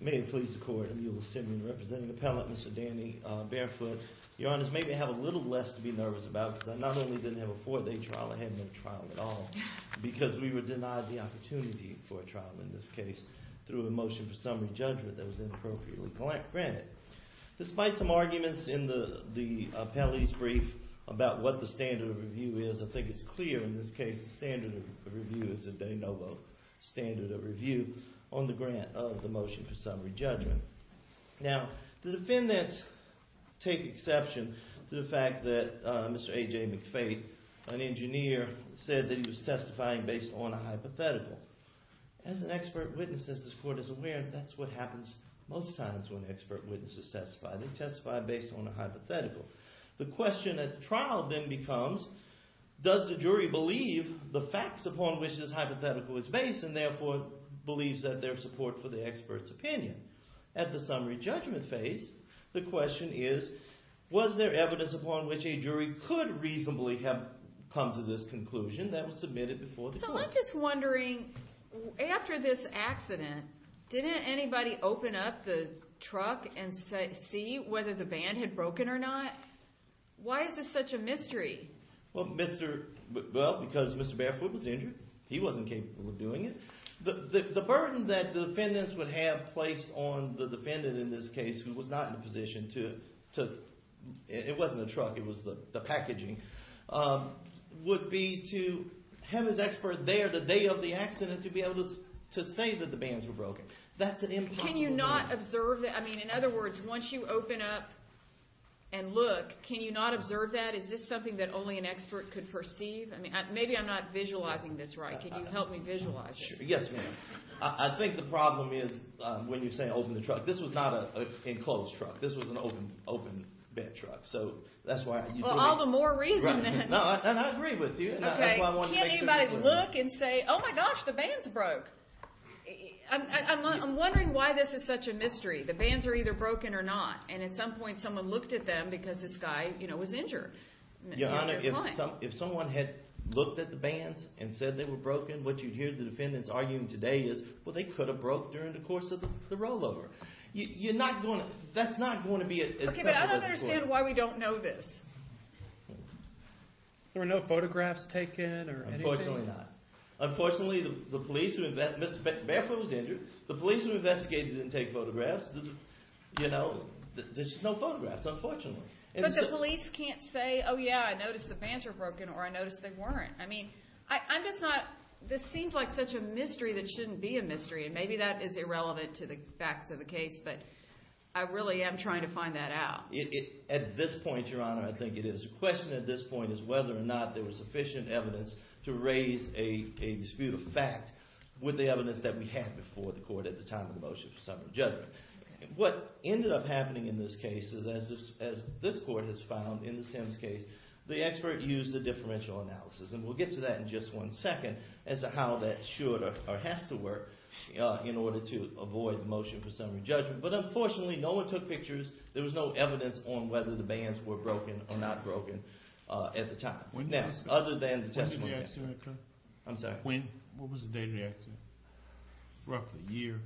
May it please the court, and you will send me to represent an appellant, Mr. Danny Barefoot. Your Honor, this made me have a little less to be nervous about, because I not only didn't have a four-day trial, I hadn't had a trial at all, because we were denied the opportunity for a trial in this case through a motion for summary judgment that was inappropriately granted. Despite some arguments in the appellee's brief about what the standard of review is, I think it's clear in this case the standard of review is a de novo standard of review on the grant of the motion for summary judgment. Now, the defendants take exception to the fact that Mr. A.J. McFaith, an engineer, said that he was testifying based on a hypothetical. As an expert witness, as this court is aware, that's what happens most times when expert witnesses testify. They testify based on a hypothetical. The question at the trial then becomes, does the jury believe the facts upon which this hypothetical is based and therefore believes that there's support for the expert's opinion? At the summary judgment phase, the question is, was there evidence upon which a jury could reasonably have come to this conclusion that was submitted before the court? So I'm just wondering, after this accident, didn't anybody open up the truck and see whether the band had broken or not? Why is this such a mystery? Well, because Mr. Barefoot was injured. He wasn't capable of doing it. The burden that the defendants would have placed on the defendant in this case, who was not in a position to... would be to have his expert there the day of the accident to be able to say that the bands were broken. That's an impossible... Can you not observe that? I mean, in other words, once you open up and look, can you not observe that? Is this something that only an expert could perceive? Maybe I'm not visualizing this right. Can you help me visualize it? Yes, ma'am. I think the problem is, when you say open the truck, this was not an enclosed truck. This was an open bed truck. Well, all the more reason then. I agree with you. Can't anybody look and say, oh my gosh, the bands broke? I'm wondering why this is such a mystery. The bands are either broken or not. And at some point, someone looked at them because this guy was injured. Your Honor, if someone had looked at the bands and said they were broken, what you'd hear the defendants arguing today is, well, they could have broke during the course of the rollover. You're not going to... that's not going to be... Okay, but I don't understand why we don't know this. There were no photographs taken or anything? Unfortunately not. Unfortunately, the police who investigated... Barefoot was injured. The police who investigated didn't take photographs. You know, there's just no photographs, unfortunately. But the police can't say, oh yeah, I noticed the bands were broken or I noticed they weren't. I mean, I'm just not... this seems like such a mystery that shouldn't be a mystery. And maybe that is irrelevant to the facts of the case, but I really am trying to find that out. At this point, Your Honor, I think it is. The question at this point is whether or not there was sufficient evidence to raise a dispute of fact with the evidence that we had before the court at the time of the motion for summary judgment. What ended up happening in this case is, as this court has found in the Sims case, the expert used a differential analysis, and we'll get to that in just one second, as to how that should or has to work in order to avoid the motion for summary judgment. But unfortunately, no one took pictures. There was no evidence on whether the bands were broken or not broken at the time. Now, other than the testimony... When was the day of the accident? I'm sorry? When was the day of the accident? Roughly a year.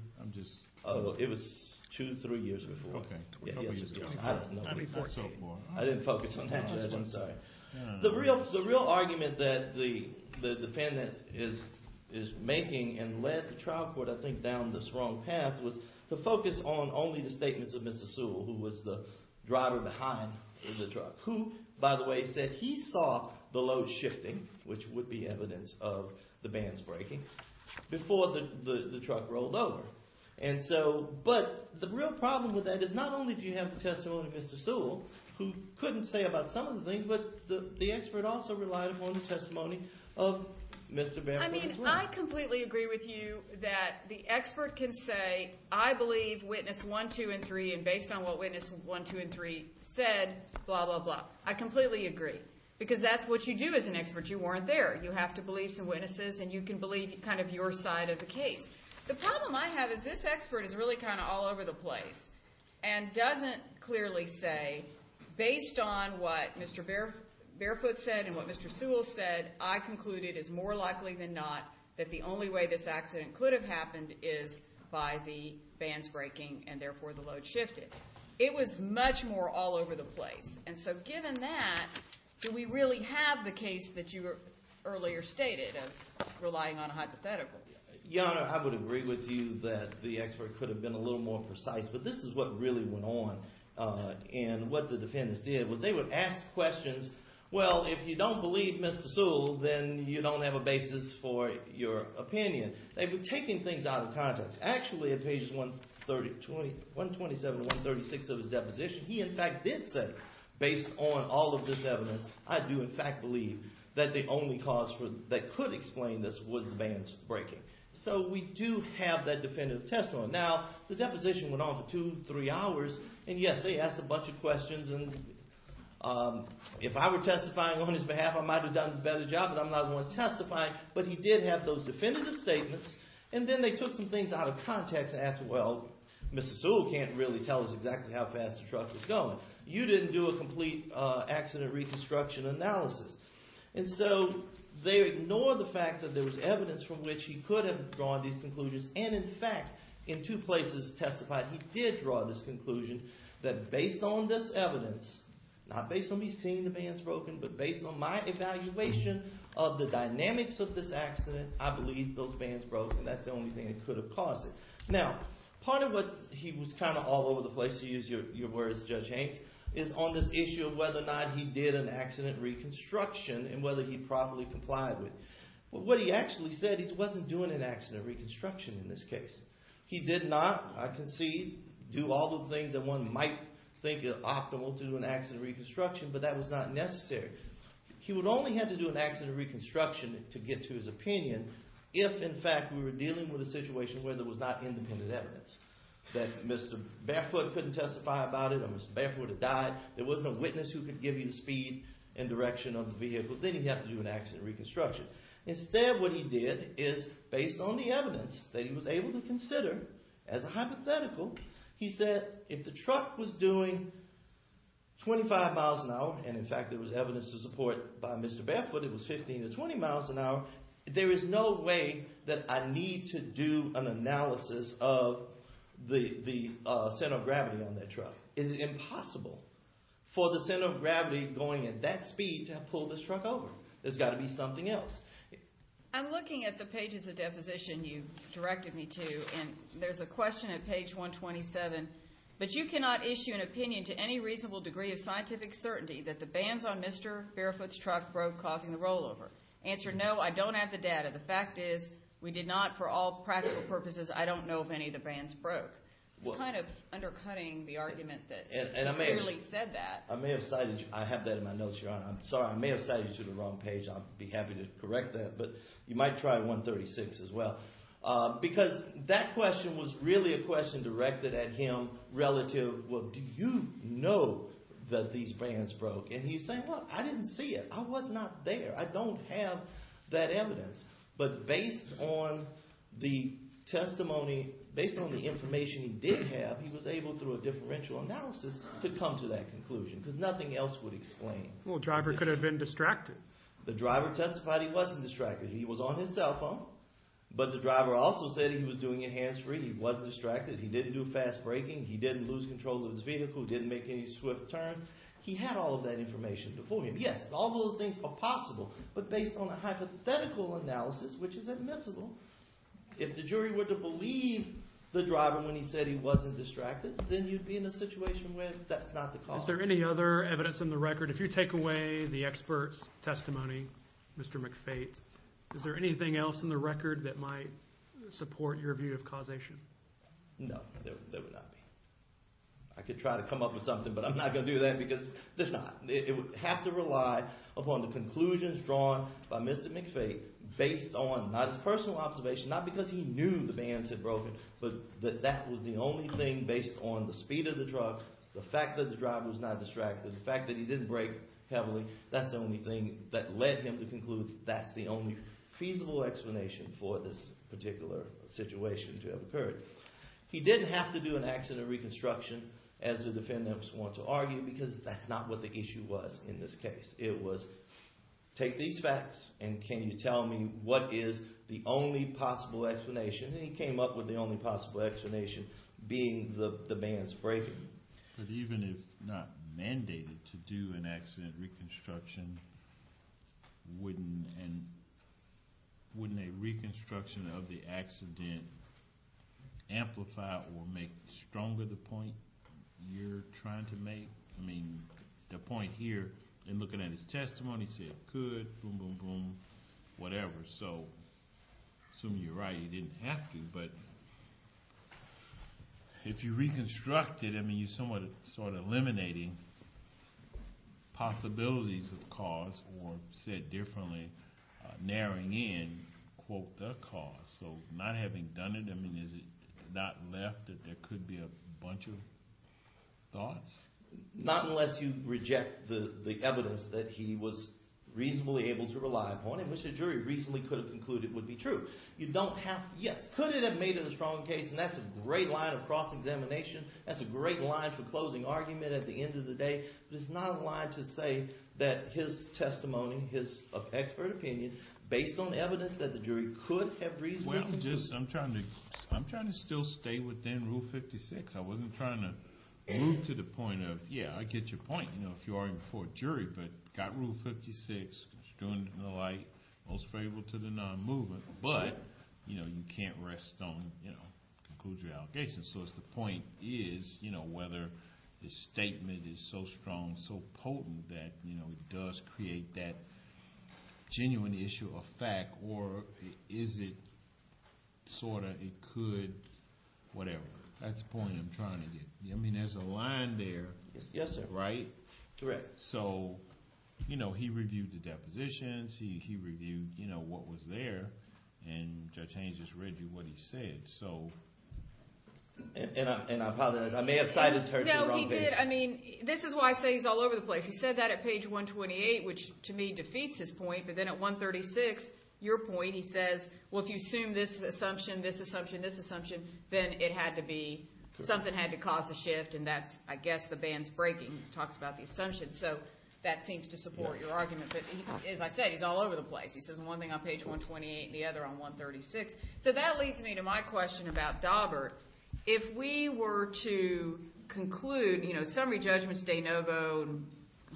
It was two, three years ago. Okay. I didn't focus on that. I'm sorry. The real argument that the defendant is making and led the trial court, I think, down this wrong path, was to focus on only the statements of Mr. Sewell, who was the driver behind the truck, who, by the way, said he saw the load shifting, which would be evidence of the bands breaking, before the truck rolled over. But the real problem with that is not only do you have the testimony of Mr. Sewell, who couldn't say about some of the things, but the expert also relied upon the testimony of Mr. Van Horn. I mean, I completely agree with you that the expert can say, I believe Witness 1, 2, and 3, and based on what Witness 1, 2, and 3 said, blah, blah, blah. I completely agree, because that's what you do as an expert. You weren't there. You have to believe some witnesses, and you can believe kind of your side of the case. The problem I have is this expert is really kind of all over the place and doesn't clearly say, based on what Mr. Barefoot said and what Mr. Sewell said, I conclude it is more likely than not that the only way this accident could have happened is by the bands breaking and therefore the load shifted. It was much more all over the place. And so given that, do we really have the case that you earlier stated of relying on a hypothetical? Your Honor, I would agree with you that the expert could have been a little more precise, but this is what really went on and what the defendants did was they would ask questions, well, if you don't believe Mr. Sewell, then you don't have a basis for your opinion. They were taking things out of context. Actually, at pages 127 to 136 of his deposition, he in fact did say, based on all of this evidence, I do in fact believe that the only cause that could explain this was the bands breaking. So we do have that definitive testimony. Now, the deposition went on for two, three hours, and yes, they asked a bunch of questions. And if I were testifying on his behalf, I might have done a better job, but I'm not the one testifying. But he did have those definitive statements, and then they took some things out of context and asked, well, Mr. Sewell can't really tell us exactly how fast the truck was going. You didn't do a complete accident reconstruction analysis. And so they ignored the fact that there was evidence from which he could have drawn these conclusions, and in fact in two places testified he did draw this conclusion that based on this evidence, not based on me seeing the bands broken, but based on my evaluation of the dynamics of this accident, I believe those bands broke, and that's the only thing that could have caused it. Now, part of what he was kind of all over the place, to use your words, Judge Hanks, is on this issue of whether or not he did an accident reconstruction and whether he properly complied with it. What he actually said, he wasn't doing an accident reconstruction in this case. He did not, I concede, do all the things that one might think are optimal to do an accident reconstruction, but that was not necessary. He would only have to do an accident reconstruction to get to his opinion if in fact we were dealing with a situation where there was not independent evidence, that Mr. Barefoot couldn't testify about it or Mr. Barefoot had died, there was no witness who could give you the speed and direction of the vehicle, then he'd have to do an accident reconstruction. Instead what he did is based on the evidence that he was able to consider as a hypothetical, he said if the truck was doing 25 miles an hour, and in fact there was evidence to support by Mr. Barefoot it was 15 to 20 miles an hour, there is no way that I need to do an analysis of the center of gravity on that truck. It is impossible for the center of gravity going at that speed to have pulled this truck over. There's got to be something else. I'm looking at the pages of deposition you directed me to, and there's a question at page 127. But you cannot issue an opinion to any reasonable degree of scientific certainty that the bands on Mr. Barefoot's truck broke causing the rollover. Answer, no, I don't have the data. The fact is we did not, for all practical purposes, I don't know if any of the bands broke. It's kind of undercutting the argument that you clearly said that. I may have cited you. I have that in my notes, Your Honor. I'm sorry. I may have cited you to the wrong page. I'll be happy to correct that, but you might try 136 as well. Because that question was really a question directed at him relative, well, do you know that these bands broke? And he's saying, well, I didn't see it. I was not there. I don't have that evidence. But based on the testimony, based on the information he did have, he was able through a differential analysis to come to that conclusion because nothing else would explain it. Well, the driver could have been distracted. The driver testified he wasn't distracted. He was on his cell phone, but the driver also said he was doing it hands-free. He was distracted. He didn't do a fast braking. He didn't lose control of his vehicle. He didn't make any swift turns. He had all of that information before him. Yes, all those things are possible. But based on a hypothetical analysis, which is admissible, if the jury were to believe the driver when he said he wasn't distracted, then you'd be in a situation where that's not the cause. Is there any other evidence in the record? If you take away the expert's testimony, Mr. McFate, is there anything else in the record that might support your view of causation? No, there would not be. I could try to come up with something, but I'm not going to do that because there's not. It would have to rely upon the conclusions drawn by Mr. McFate based on not his personal observation, not because he knew the bands had broken, but that that was the only thing based on the speed of the truck, the fact that the driver was not distracted, the fact that he didn't brake heavily. That's the only thing that led him to conclude that's the only feasible explanation for this particular situation to have occurred. He didn't have to do an accident reconstruction, as the defendants want to argue, because that's not what the issue was in this case. It was, take these facts and can you tell me what is the only possible explanation? And he came up with the only possible explanation being the bands breaking. But even if not mandated to do an accident reconstruction, wouldn't a reconstruction of the accident amplify or make stronger the point you're trying to make? I mean, the point here, in looking at his testimony, he said it could, boom, boom, boom, whatever. So I assume you're right, he didn't have to, but if you reconstruct it, I mean, you're somewhat sort of eliminating possibilities of cause or, said differently, narrowing in, quote, the cause. So not having done it, I mean, is it not left that there could be a bunch of thoughts? Not unless you reject the evidence that he was reasonably able to rely upon, in which the jury reasonably could have concluded would be true. You don't have to, yes, could it have made it a strong case? And that's a great line of cross-examination. That's a great line for closing argument at the end of the day. But it's not a line to say that his testimony, his expert opinion, based on the evidence that the jury could have reasonably concluded. Well, just I'm trying to still stay within Rule 56. I wasn't trying to move to the point of, yeah, I get your point, you know, if you're already before a jury. But you've got Rule 56, construed in the light, most favorable to the non-mover. But, you know, you can't rest on, you know, conclude your allegation. So the point is, you know, whether the statement is so strong, so potent, that, you know, it does create that genuine issue of fact, or is it sort of it could whatever. That's the point I'm trying to get. I mean, there's a line there, right? Yes, sir. Correct. So, you know, he reviewed the depositions. He reviewed, you know, what was there. And Judge Haynes just read you what he said. So. And I apologize. I may have cited Churchill wrongly. No, he did. I mean, this is why I say he's all over the place. He said that at page 128, which to me defeats his point. But then at 136, your point, he says, well, if you assume this assumption, this assumption, this assumption, then it had to be something had to cause a shift. And that's, I guess, the band's breaking. He talks about the assumption. So that seems to support your argument. But as I said, he's all over the place. He says one thing on page 128 and the other on 136. So that leads me to my question about Daubert. If we were to conclude, you know, summary judgments, de novo,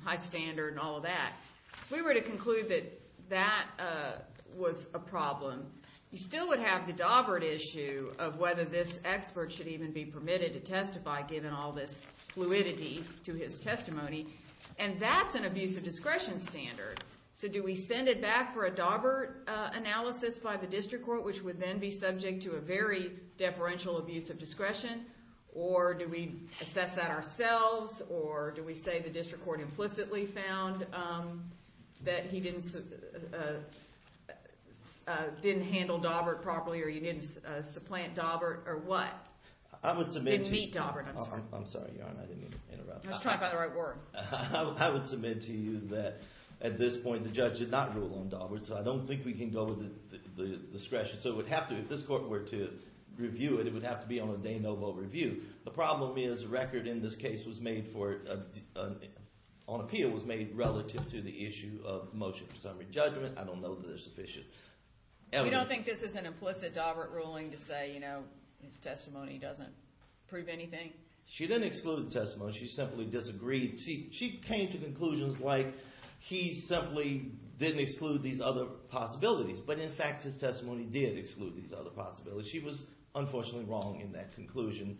high standard and all of that, if we were to conclude that that was a problem, you still would have the Daubert issue of whether this expert should even be permitted to testify, given all this fluidity to his testimony. And that's an abuse of discretion standard. So do we send it back for a Daubert analysis by the district court, which would then be subject to a very deferential abuse of discretion? Or do we assess that ourselves? Or do we say the district court implicitly found that he didn't handle Daubert properly or he didn't supplant Daubert or what? I would submit to youó Didn't meet Daubert, I'm sorry. I'm sorry, Your Honor. I didn't mean to interrupt. I was trying to find the right word. I would submit to you that at this point the judge did not rule on Daubert, so I don't think we can go with the discretion. So it would have toóif this court were to review it, it would have to be on a de novo review. The problem is a record in this case was made foróon appeal was made relative to the issue of motion. Summary judgment, I don't know that there's sufficient evidence. You don't think this is an implicit Daubert ruling to say his testimony doesn't prove anything? She didn't exclude the testimony. She simply disagreed. She came to conclusions like he simply didn't exclude these other possibilities, but in fact his testimony did exclude these other possibilities. She was unfortunately wrong in that conclusion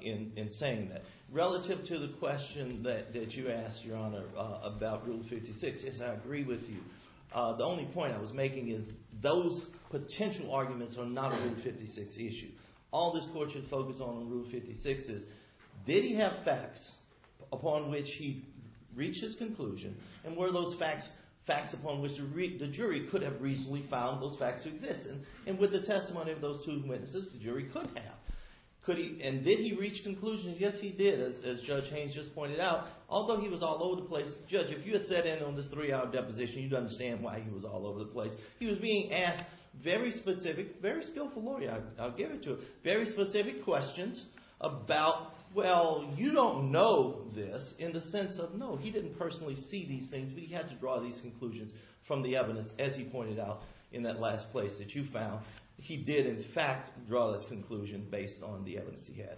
in saying that. Relative to the question that you asked, Your Honor, about Rule 56, yes, I agree with you. The only point I was making is those potential arguments are not a Rule 56 issue. All this court should focus on in Rule 56 is did he have facts upon which he reached his conclusion and were those facts facts upon which the jury could have reasonably found those facts to exist? And with the testimony of those two witnesses, the jury could have. Could heóand did he reach conclusions? Yes, he did, as Judge Haynes just pointed out, although he was all over the place. Judge, if you had sat in on this three-hour deposition, you'd understand why he was all over the place. He was being asked very specificóvery skillful lawyer, I'll give it to himóvery specific questions about, well, you don't know this in the sense of no, he didn't personally see these things, but he had to draw these conclusions from the evidence, as he pointed out in that last place that you found. He did, in fact, draw this conclusion based on the evidence he had.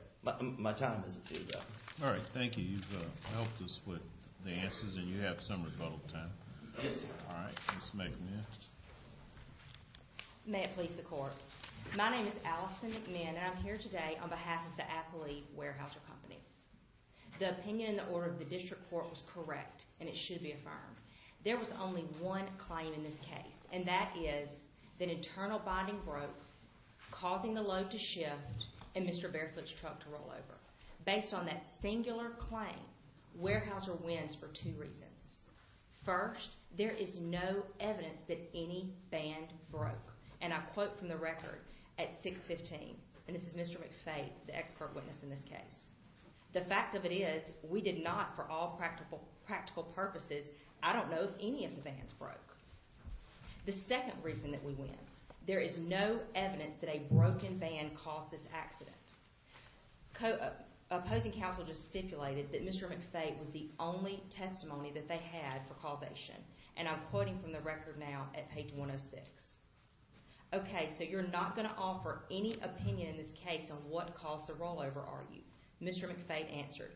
My time is up. All right, thank you. You've helped us with the answers, and you have some rebuttal time. All right, Ms. McMinn. May it please the Court. My name is Allison McMinn, and I'm here today on behalf of the Appley Warehouse Company. The opinion in the order of the district court was correct, and it should be affirmed. There was only one claim in this case, and that is that internal binding broke, causing the load to shift, and Mr. Barefoot's truck to roll over. Based on that singular claim, Weyerhaeuser wins for two reasons. First, there is no evidence that any band broke, and I quote from the record at 615ó and this is Mr. McFay, the expert witness in this caseó ìThe fact of it is we did not, for all practical purposes, I don't know if any of the bands broke.î The second reason that we win, there is no evidence that a broken band caused this accident. Opposing counsel just stipulated that Mr. McFay was the only testimony that they had for causation, and I'm quoting from the record now at page 106. Okay, so you're not going to offer any opinion in this case on what caused the rollover, are you? Mr. McFay answered.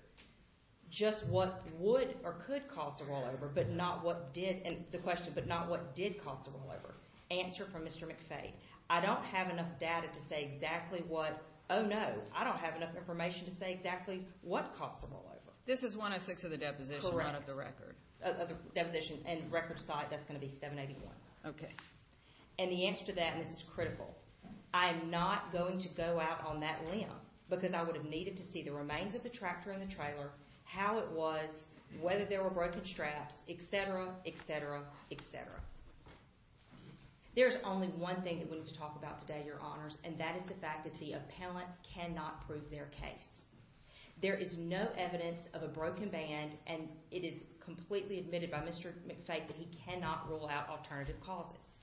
Just what would or could cause the rollover, but not what didóthe questionó but not what did cause the rollover. Answer from Mr. McFay. I don't have enough data to say exactly whatóoh, no. I don't have enough information to say exactly what caused the rollover. This is 106 of the deposition, not of the record. Correctóof the deposition and record site. That's going to be 781. Okay. And the answer to thatóand this is criticalóI am not going to go out on that limb because I would have needed to see the remains of the tractor and the trailer, how it was, whether there were broken straps, etc., etc., etc. There is only one thing that we need to talk about today, Your Honors, and that is the fact that the appellant cannot prove their case. There is no evidence of a broken band, and it is completely admitted by Mr. McFay that he cannot rule out alternative causes.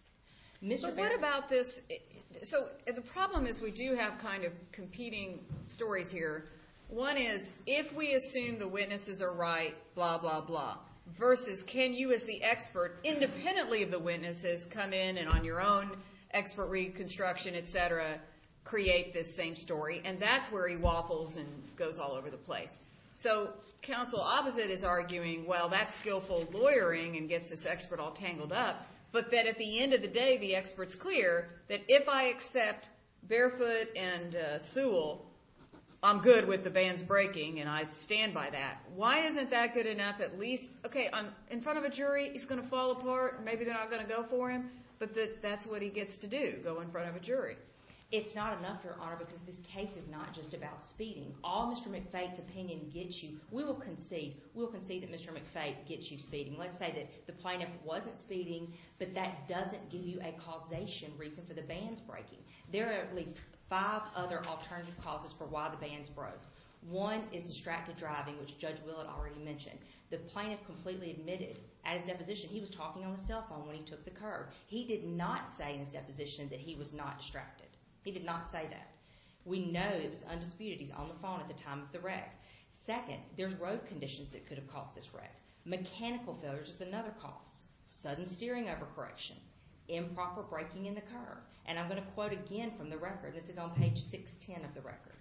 But what about thisóso the problem is we do have kind of competing stories here. One is if we assume the witnesses are right, blah, blah, blah, versus can you as the expert independently of the witnesses come in and on your own expert reconstruction, etc., create this same story, and that's where he waffles and goes all over the place. So counsel opposite is arguing, well, that's skillful lawyering and gets this expert all tangled up, but that at the end of the day, the expert's clear that if I accept Barefoot and Sewell, I'm good with the bands breaking and I stand by that. Why isn't that good enough? At leastóokay, in front of a jury, he's going to fall apart. Maybe they're not going to go for him, but that's what he gets to do, go in front of a jury. It's not enough, Your Honor, because this case is not just about speeding. All Mr. McFay's opinion gets youówe will concedeó we will concede that Mr. McFay gets you speeding. Let's say that the plaintiff wasn't speeding, but that doesn't give you a causation reason for the bands breaking. There are at least five other alternative causes for why the bands broke. One is distracted driving, which Judge Willard already mentioned. The plaintiff completely admitted at his deposition he was talking on the cell phone when he took the curb. He did not say in his deposition that he was not distracted. He did not say that. We know it was undisputed. He's on the phone at the time of the wreck. Second, there's road conditions that could have caused this wreck. Mechanical failures is another cause. Sudden steering overcorrection. Improper braking in the curb. And I'm going to quote again from the record. This is on page 610 of the record.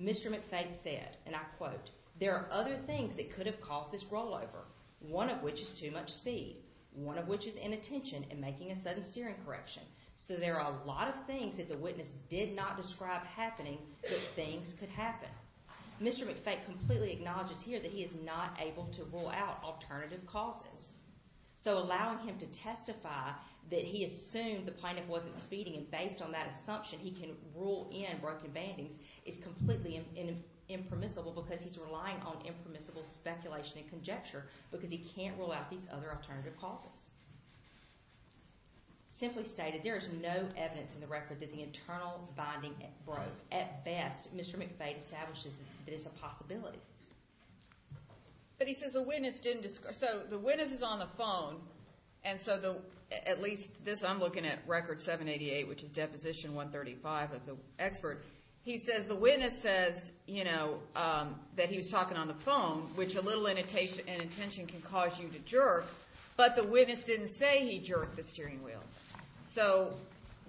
Mr. McFay said, and I quote, there are other things that could have caused this rollover, one of which is too much speed, one of which is inattention in making a sudden steering correction. So there are a lot of things that the witness did not describe happening that things could happen. Mr. McFay completely acknowledges here that he is not able to rule out alternative causes. So allowing him to testify that he assumed the plaintiff wasn't speeding and based on that assumption he can rule in broken bandings is completely impermissible because he's relying on impermissible speculation and conjecture because he can't rule out these other alternative causes. Simply stated, there is no evidence in the record that the internal binding broke. At best, Mr. McFay establishes that it's a possibility. But he says the witness didn't describe. So the witness is on the phone, and so at least this I'm looking at record 788, which is deposition 135 of the expert. He says the witness says that he was talking on the phone, which a little inattention can cause you to jerk, but the witness didn't say he jerked the steering wheel. So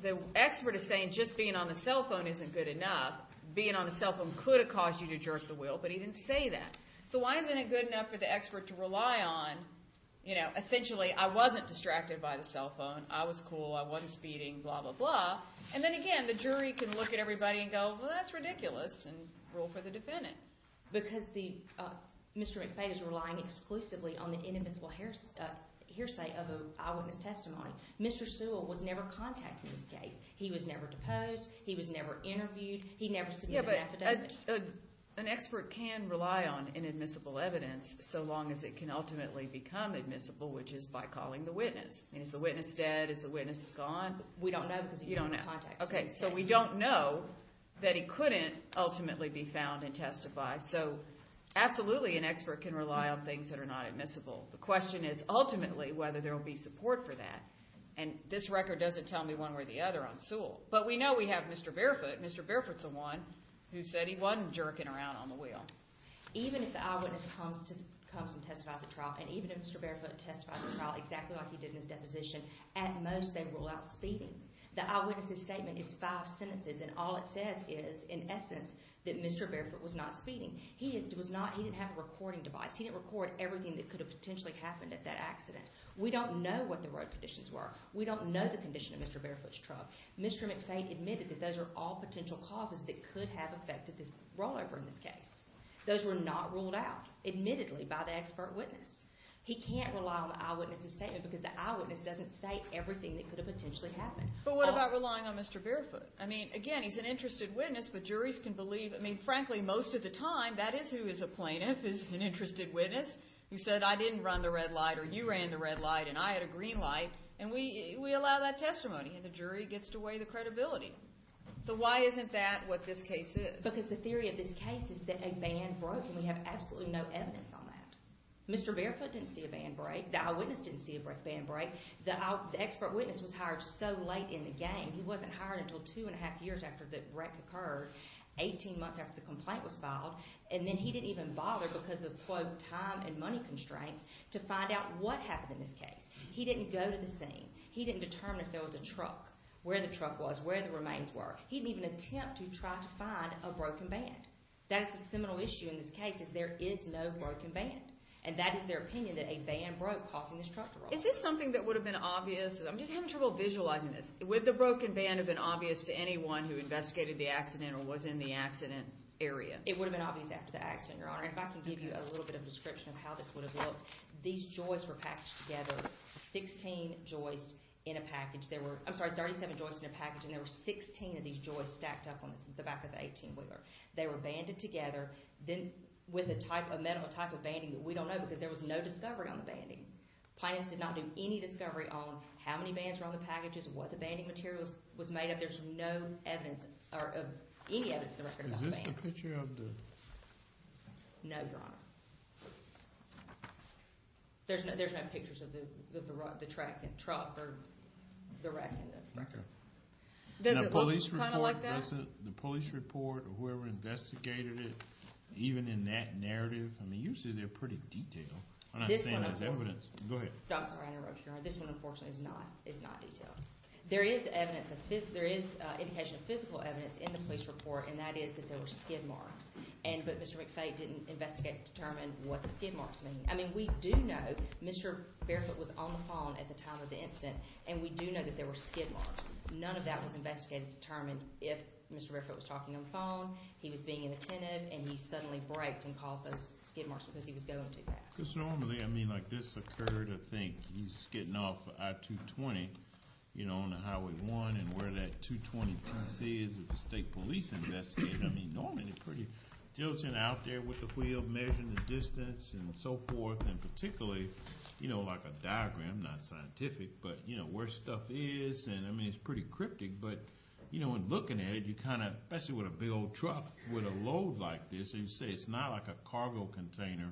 the expert is saying just being on the cell phone isn't good enough. Being on the cell phone could have caused you to jerk the wheel, but he didn't say that. So why isn't it good enough for the expert to rely on, essentially, I wasn't distracted by the cell phone, I was cool, I wasn't speeding, blah, blah, blah. And then again, the jury can look at everybody and go, well, that's ridiculous, and rule for the defendant. Because Mr. McFay is relying exclusively on the inadmissible hearsay of an eyewitness testimony. Mr. Sewell was never contacted in this case. He was never deposed. He was never interviewed. He never submitted an affidavit. An expert can rely on inadmissible evidence so long as it can ultimately become admissible, which is by calling the witness. Is the witness dead? Is the witness gone? We don't know because he's not in contact. Okay, so we don't know that he couldn't ultimately be found and testified. So absolutely an expert can rely on things that are not admissible. The question is ultimately whether there will be support for that. And this record doesn't tell me one way or the other on Sewell. But we know we have Mr. Barefoot. Mr. Barefoot's the one who said he wasn't jerking around on the wheel. Even if the eyewitness comes and testifies at trial, and even if Mr. Barefoot testifies at trial, exactly like he did in his deposition, at most they rule out speeding. The eyewitness's statement is five sentences, and all it says is, in essence, that Mr. Barefoot was not speeding. He didn't have a recording device. He didn't record everything that could have potentially happened at that accident. We don't know what the road conditions were. We don't know the condition of Mr. Barefoot's truck. Mr. McFade admitted that those are all potential causes that could have affected this rollover in this case. Those were not ruled out, admittedly, by the expert witness. He can't rely on the eyewitness's statement because the eyewitness doesn't say everything that could have potentially happened. But what about relying on Mr. Barefoot? I mean, again, he's an interested witness, but juries can believe. I mean, frankly, most of the time, that is who is a plaintiff, is an interested witness, who said, I didn't run the red light, or you ran the red light, and I had a green light. And we allow that testimony, and the jury gets to weigh the credibility. So why isn't that what this case is? Because the theory of this case is that a van broke, and we have absolutely no evidence on that. Mr. Barefoot didn't see a van break. The eyewitness didn't see a break van break. The expert witness was hired so late in the game. He wasn't hired until two and a half years after the wreck occurred, 18 months after the complaint was filed. And then he didn't even bother because of, quote, time and money constraints to find out what happened in this case. He didn't go to the scene. He didn't determine if there was a truck, where the truck was, where the remains were. He didn't even attempt to try to find a broken van. That's the seminal issue in this case is there is no broken van, and that is their opinion that a van broke causing this truck to roll over. Is this something that would have been obvious? I'm just having trouble visualizing this. Would the broken van have been obvious to anyone who investigated the accident or was in the accident area? It would have been obvious after the accident, Your Honor. If I can give you a little bit of a description of how this would have looked. These joists were packaged together, 16 joists in a package. There were, I'm sorry, 37 joists in a package, and there were 16 of these joists stacked up on the back of the 18-wheeler. They were banded together with a metal type of banding that we don't know because there was no discovery on the banding. Plaintiffs did not do any discovery on how many bands were on the packages, what the banding material was made of. There's no evidence or any evidence of the record of the bands. Is this a picture of the... No, Your Honor. There's no pictures of the truck or the wreck in the record. Does it look kind of like that? The police report or whoever investigated it, even in that narrative, I mean, usually they're pretty detailed. I'm not saying there's evidence. Go ahead. I'm sorry, I interrupted, Your Honor. This one, unfortunately, is not detailed. There is indication of physical evidence in the police report, and that is that there were skid marks, but Mr. McFay didn't investigate and determine what the skid marks mean. I mean, we do know Mr. Barefoot was on the phone at the time of the incident, and we do know that there were skid marks. None of that was investigated and determined. If Mr. Barefoot was talking on the phone, he was being inattentive, and he suddenly braked and caused those skid marks because he was going too fast. Because normally, I mean, like this occurred, I think. He's skidding off I-220, you know, on Highway 1, and where that 220 PC is is the state police investigating. I mean, normally they're pretty diligent out there with the wheel, measuring the distance and so forth, and particularly, you know, like a diagram, not scientific, but, you know, where stuff is. And, I mean, it's pretty cryptic, but, you know, in looking at it, you kind of, especially with a big old truck with a load like this, as you say, it's not like a cargo container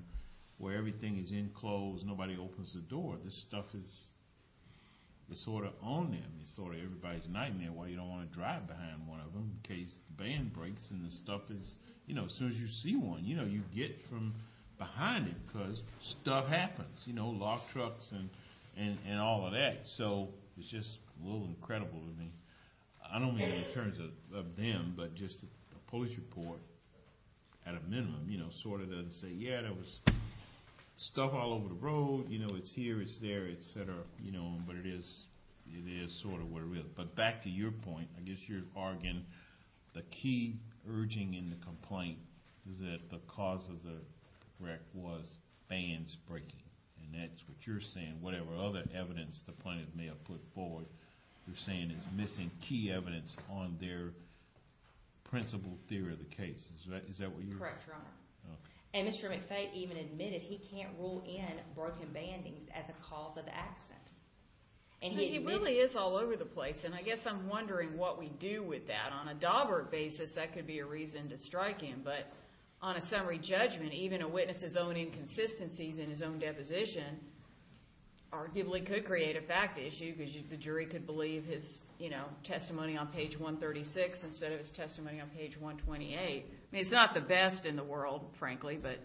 where everything is enclosed and nobody opens the door. This stuff is sort of on them. It's sort of everybody's nightmare why you don't want to drive behind one of them in case the van breaks, and the stuff is, you know, as soon as you see one, you know, you get from behind it because stuff happens. You know, locked trucks and all of that. So it's just a little incredible to me. I don't mean in terms of them, but just a police report at a minimum, you know, sort of doesn't say, yeah, there was stuff all over the road. You know, it's here, it's there, et cetera. You know, but it is sort of what it is. But back to your point, I guess you're arguing the key urging in the complaint is that the cause of the wreck was vans breaking, and that's what you're saying. Whatever other evidence the plaintiff may have put forward, you're saying it's missing key evidence on their principle theory of the case. Is that what you're saying? Correct, Your Honor. And Mr. McFay even admitted he can't rule in broken bandings as a cause of the accident. He really is all over the place, and I guess I'm wondering what we do with that. On a Daubert basis, that could be a reason to strike him. But on a summary judgment, even a witness's own inconsistencies in his own deposition arguably could create a fact issue because the jury could believe his, you know, testimony on page 136 instead of his testimony on page 128. I mean, it's not the best in the world, frankly, but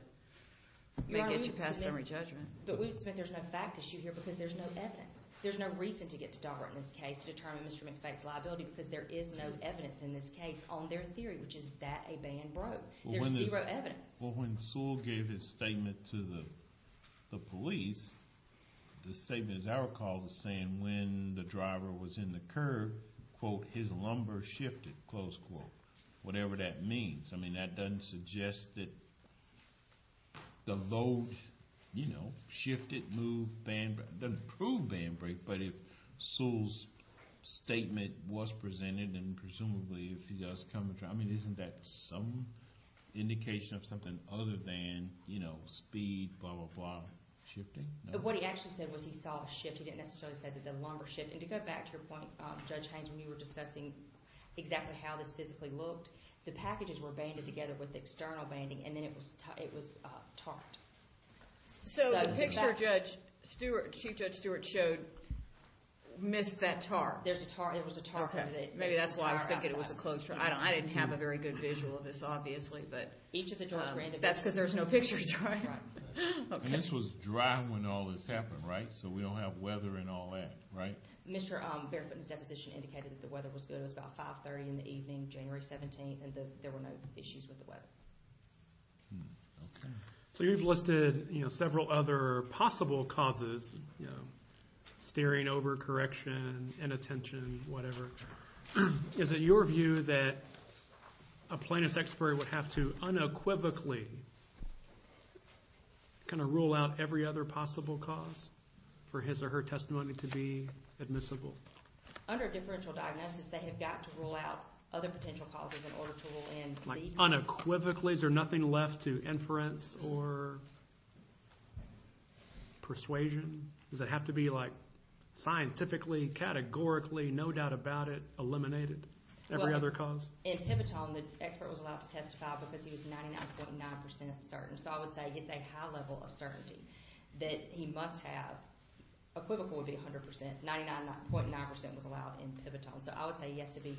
it gets you past summary judgment. Your Honor, we would submit there's no fact issue here because there's no evidence. There's no reason to get to Daubert in this case to determine Mr. McFay's liability because there is no evidence in this case on their theory, which is that a band broke. There's zero evidence. Well, when Sewell gave his statement to the police, the statement, as I recall, was saying when the driver was in the curb, quote, his lumbar shifted, close quote, whatever that means. I mean, that doesn't suggest that the load, you know, shifted, moved, doesn't prove band break, but if Sewell's statement was presented and presumably if he does come to trial, I mean, isn't that some indication of something other than, you know, speed, blah, blah, blah, shifting? What he actually said was he saw a shift. He didn't necessarily say that the lumbar shifted. To go back to your point, Judge Haynes, when you were discussing exactly how this physically looked, the packages were banded together with external banding, and then it was tarred. So the picture Chief Judge Stewart showed missed that tar. There's a tar. It was a tar. Okay. Maybe that's why I was thinking it was a closed trial. I didn't have a very good visual of this, obviously, but that's because there's no pictures, right? Right. And this was dry when all this happened, right? So we don't have weather and all that, right? Mr. Barefoot's deposition indicated that the weather was good. It was about 530 in the evening, January 17th, and there were no issues with the weather. Okay. So you've listed, you know, several other possible causes, you know, steering over, correction, inattention, whatever. Is it your view that a plaintiff's expert would have to unequivocally kind of rule out every other possible cause for his or her testimony to be admissible? Under differential diagnosis, they have got to rule out other potential causes in order to rule in. Unequivocally? Is there nothing left to inference or persuasion? Does it have to be, like, scientifically, categorically, no doubt about it, eliminated every other cause? In Pivotone, the expert was allowed to testify because he was 99.9% certain. So I would say it's a high level of certainty that he must have. Equivocal would be 100%. 99.9% was allowed in Pivotone. So I would say he has to be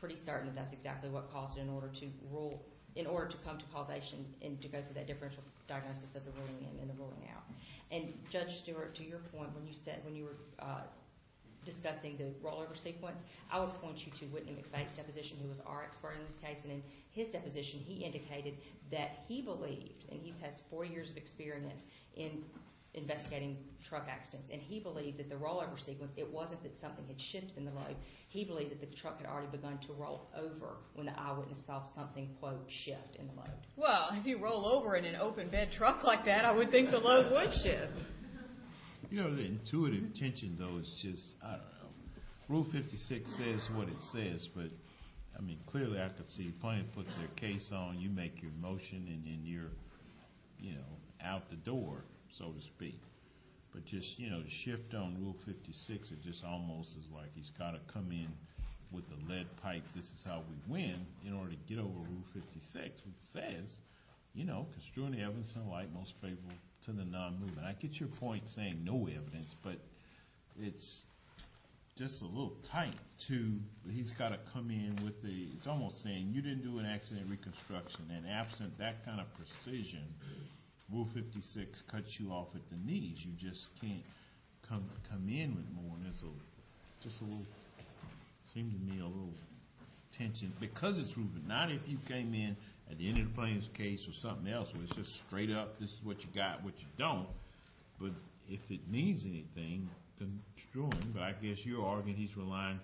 pretty certain that that's exactly what caused it in order to rule, in order to come to causation and to go through that differential diagnosis of the ruling in and the ruling out. And Judge Stewart, to your point, when you said, when you were discussing the rollover sequence, I would point you to Whitney McVeigh's deposition, who was our expert in this case. And in his deposition, he indicated that he believed, and he has four years of experience in investigating truck accidents, and he believed that the rollover sequence, it wasn't that something had shifted in the road. He believed that the truck had already begun to roll over when the eyewitness saw something, quote, shift in the road. Well, if you roll over in an open bed truck like that, I would think the load would shift. You know, the intuitive tension, though, is just, I don't know. Rule 56 says what it says. But, I mean, clearly I could see the plaintiff puts their case on. You make your motion, and then you're, you know, out the door, so to speak. But just, you know, the shift on Rule 56, it just almost is like he's got to come in with the lead pipe, this is how we win, in order to get over Rule 56, which says, you know, construing the evidence in light and most favorable to the non-movement. I get your point saying no evidence, but it's just a little tight to he's got to come in with the, it's almost saying you didn't do an accident reconstruction, and absent that kind of precision, Rule 56 cuts you off at the knees. You just can't come in with more, and there's just a little, seemed to me, a little tension. Because it's proven, not if you came in at the end of the plaintiff's case or something else, where it's just straight up, this is what you got, what you don't. But if it means anything, construing. But I guess you're arguing he's relying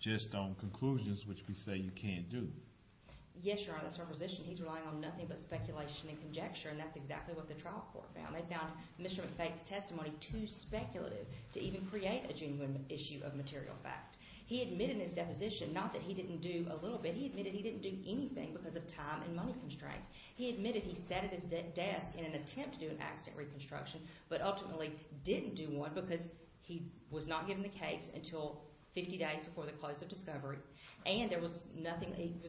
just on conclusions, which we say you can't do. Yes, Your Honor, that's our position. He's relying on nothing but speculation and conjecture, and that's exactly what the trial court found. They found Mr. McFaith's testimony too speculative to even create a genuine issue of material fact. He admitted in his deposition, not that he didn't do a little bit, he admitted he didn't do anything because of time and money constraints. He admitted he sat at his desk in an attempt to do an accident reconstruction, but ultimately didn't do one because he was not given the case until 50 days before the close of discovery, and he was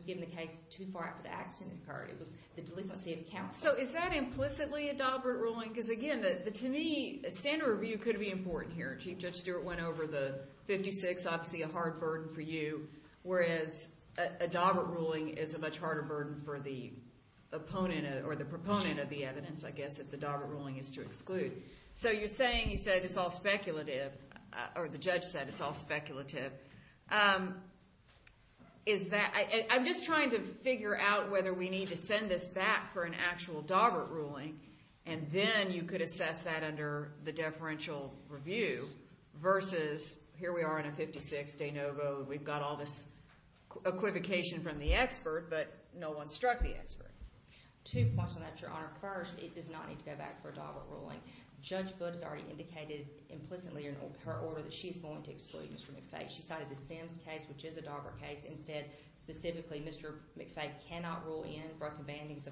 given the case too far after the accident occurred. It was the delinquency of counsel. So is that implicitly a Dobbert ruling? Because, again, to me, standard review could be important here. Chief Judge Stewart went over the 56, obviously a hard burden for you, whereas a Dobbert ruling is a much harder burden for the proponent of the evidence, I guess, if the Dobbert ruling is to exclude. So you're saying you said it's all speculative, or the judge said it's all speculative. I'm just trying to figure out whether we need to send this back for an actual Dobbert ruling, and then you could assess that under the deferential review versus here we are in a 56, de novo, we've got all this equivocation from the expert, but no one struck the expert. Two points on that, Your Honor. First, it does not need to go back for a Dobbert ruling. Judge Budd has already indicated implicitly in her order that she is going to exclude Mr. McFay. She cited the Sims case, which is a Dobbert case, and said specifically Mr. McFay cannot rule in broken bandings as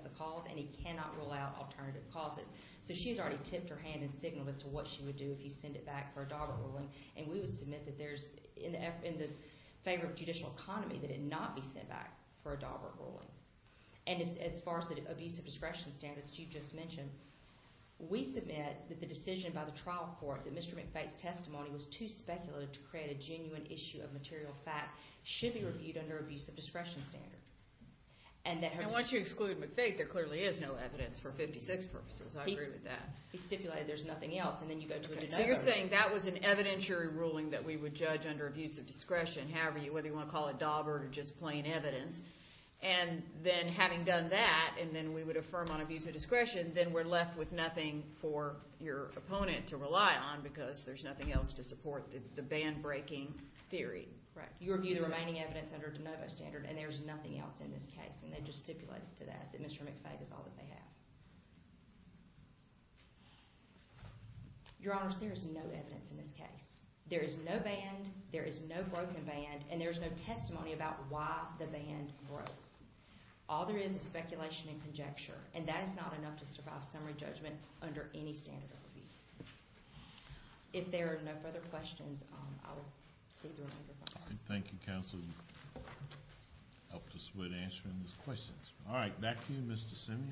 the cause, and he cannot rule out alternative causes. So she has already tipped her hand and signaled as to what she would do if you send it back for a Dobbert ruling, and we would submit that there's, in the favor of judicial economy, that it not be sent back for a Dobbert ruling. And as far as the abuse of discretion standard that you just mentioned, we submit that the decision by the trial court that Mr. McFay's testimony was too speculative to create a genuine issue of material fact should be reviewed under abuse of discretion standard. And once you exclude McFay, there clearly is no evidence for 56 purposes. I agree with that. He stipulated there's nothing else, and then you go to a de novo. So you're saying that was an evidentiary ruling that we would judge under abuse of discretion, however, whether you want to call it Dobbert or just plain evidence, and then having done that, and then we would affirm on abuse of discretion, then we're left with nothing for your opponent to rely on because there's nothing else to support the band-breaking theory. Correct. You review the remaining evidence under de novo standard, and there's nothing else in this case, and they just stipulated to that, that Mr. McFay is all that they have. Your Honors, there is no evidence in this case. There is no band, there is no broken band, and there is no testimony about why the band broke. All there is is speculation and conjecture, and that is not enough to survive summary judgment under any standard of review. If there are no further questions, I will see the remainder of my time. Thank you, Counsel. I hope this would answer those questions. All right, back to you, Mr. Simeon.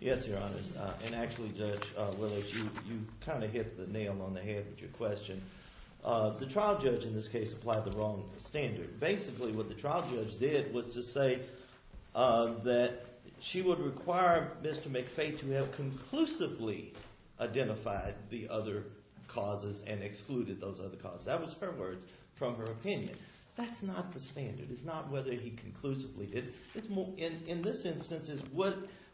Yes, Your Honors. And actually, Judge Willis, you kind of hit the nail on the head with your question. The trial judge in this case applied the wrong standard. Basically, what the trial judge did was to say that she would require Mr. McFay to have conclusively identified the other causes and excluded those other causes. That was her words from her opinion. That's not the standard. It's not whether he conclusively did it. In this instance,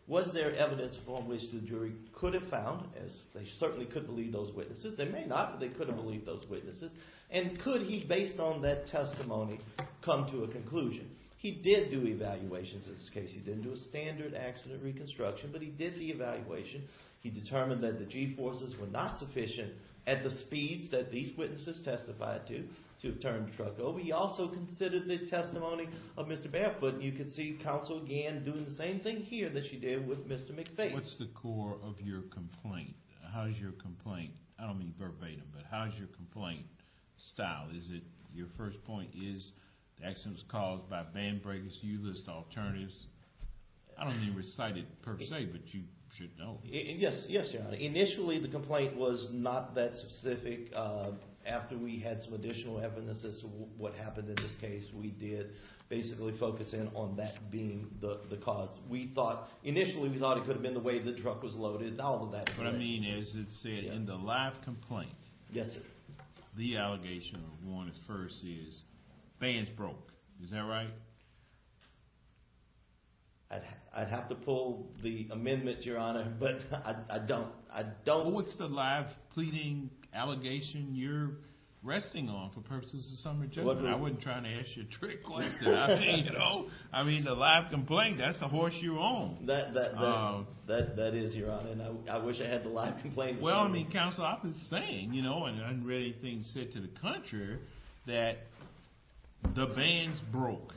was there evidence from which the jury could have found, as they certainly could believe those witnesses. They may not, but they could have believed those witnesses. And could he, based on that testimony, come to a conclusion? He did do evaluations in this case. He didn't do a standard accident reconstruction, but he did the evaluation. He determined that the G-forces were not sufficient at the speeds that these witnesses testified to to turn the truck over. He also considered the testimony of Mr. Barefoot. You can see counsel again doing the same thing here that she did with Mr. McFay. What's the core of your complaint? How is your complaint? I don't mean verbatim, but how is your complaint style? Is it your first point is the accident was caused by band breakers? You list alternatives. I don't mean recite it per se, but you should know. Yes, yes, Your Honor. Initially, the complaint was not that specific. After we had some additional evidence as to what happened in this case, we did basically focus in on that being the cause. Initially, we thought it could have been the way the truck was loaded. All of that. What I mean is it said in the live complaint, the allegation of warranted first is bands broke. Is that right? I'd have to pull the amendment, Your Honor, but I don't. What's the live pleading allegation you're resting on for purposes of summary judgment? I wasn't trying to ask you a trick like that. I mean, the live complaint, that's the horse you're on. That is, Your Honor, and I wish I had the live complaint. Well, counsel, I've been saying, and I haven't read anything said to the contrary, that the bands broke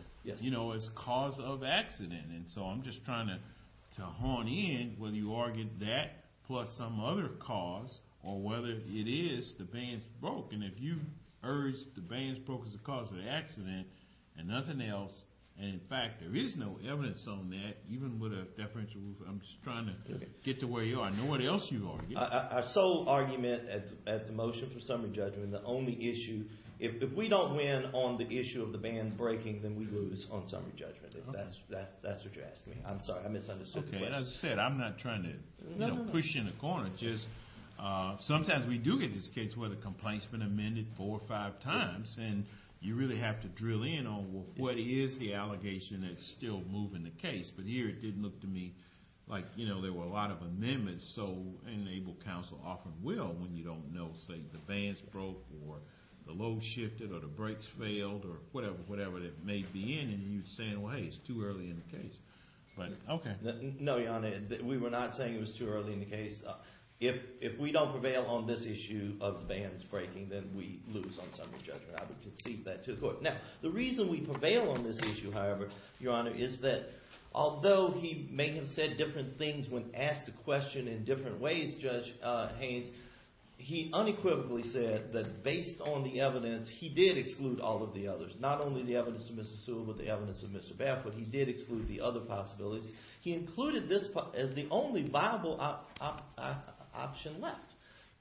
as cause of accident. And so I'm just trying to hone in whether you argued that plus some other cause or whether it is the bands broke. And if you urge the bands broke as a cause of the accident and nothing else, and, in fact, there is no evidence on that, even with a deferential rule, I'm just trying to get to where you are. I know what else you've argued. Our sole argument at the motion for summary judgment, the only issue, if we don't win on the issue of the band breaking, then we lose on summary judgment. If that's what you're asking me. I'm sorry, I misunderstood the question. Okay, as I said, I'm not trying to push you in a corner. Sometimes we do get this case where the complaint's been amended four or five times and you really have to drill in on what is the allegation that's still moving the case. But here it didn't look to me like there were a lot of amendments. And counsel often will when you don't know, say, the bands broke or the load shifted or the brakes failed or whatever that may be in, and you're saying, well, hey, it's too early in the case. No, Your Honor, we were not saying it was too early in the case. If we don't prevail on this issue of the bands breaking, then we lose on summary judgment. I would concede that to the court. Now, the reason we prevail on this issue, however, Your Honor, is that although he may have said different things when asked a question in different ways, Judge Haynes, he unequivocally said that based on the evidence, he did exclude all of the others, not only the evidence of Mr. Sewell but the evidence of Mr. Baffert. He did exclude the other possibilities. He included this as the only viable option left.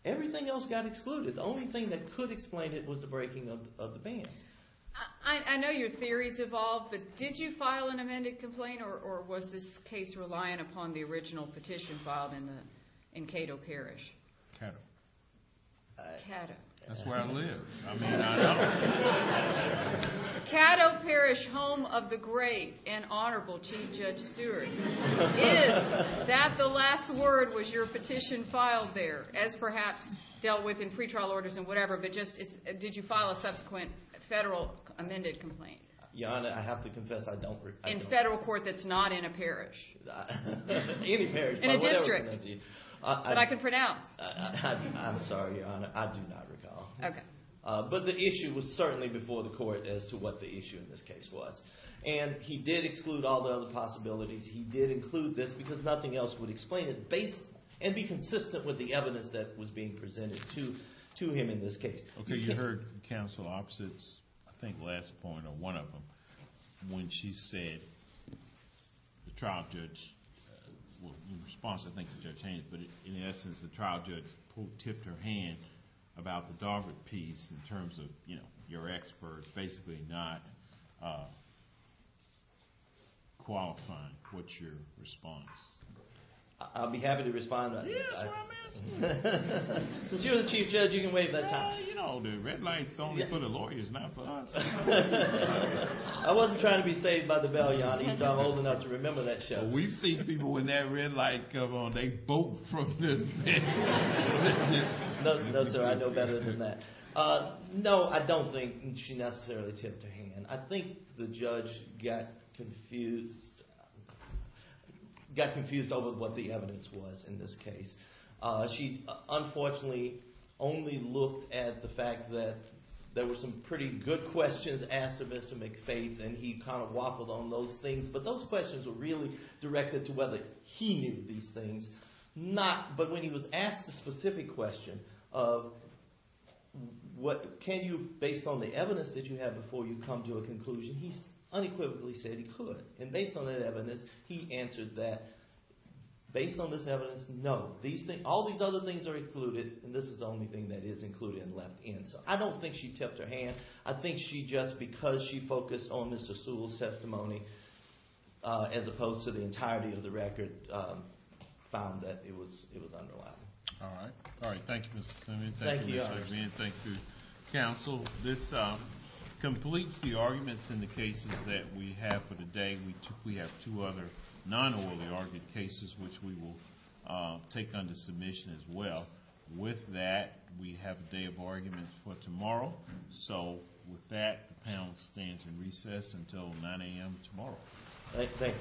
Everything else got excluded. The only thing that could explain it was the breaking of the bands. I know your theories evolved, but did you file an amended complaint or was this case reliant upon the original petition filed in Cato Parish? Cato. Cato. That's where I live. Cato Parish, home of the great and honorable Chief Judge Stewart. It is that the last word was your petition filed there, as perhaps dealt with in pretrial orders and whatever, but just did you file a subsequent federal amended complaint? Your Honor, I have to confess I don't recall. In federal court that's not in a parish. Any parish, but whatever. In a district that I can pronounce. I'm sorry, Your Honor. I do not recall. Okay. But the issue was certainly before the court as to what the issue in this case was. And he did exclude all the other possibilities. He did include this because nothing else would explain it and be consistent with the evidence that was being presented to him in this case. Okay. You heard Counsel Oppsitz, I think last point or one of them, when she said the trial judge, in response I think to Judge Haynes, but in essence the trial judge tipped her hand about the Dogwood piece in terms of your expert basically not qualifying. What's your response? I'll be happy to respond. Yes, well, I'm asking. Since you're the Chief Judge, you can waive that time. You know, the red light's only for the lawyers, not for us. I wasn't trying to be saved by the bell, Your Honor. I'm old enough to remember that show. We've seen people in that red light come on. They bolt from the next. No, sir, I know better than that. No, I don't think she necessarily tipped her hand. I think the judge got confused over what the evidence was in this case. She unfortunately only looked at the fact that there were some pretty good questions asked of Mr. McFaith, and he kind of waffled on those things. But those questions were really directed to whether he knew these things. But when he was asked the specific question of can you, based on the evidence that you have before you come to a conclusion, he unequivocally said he could. And based on that evidence, he answered that based on this evidence, no. All these other things are included, and this is the only thing that is included and left in. So I don't think she tipped her hand. I think she just, because she focused on Mr. Sewell's testimony as opposed to the entirety of the record, found that it was underlined. All right. Thank you, Mr. Simmons. Thank you. Thank you, counsel. This completes the arguments in the cases that we have for today. We have two other non-orally argued cases, which we will take under submission as well. With that, we have a day of arguments for tomorrow. So with that, the panel stands in recess until 9 a.m. tomorrow. Thank you.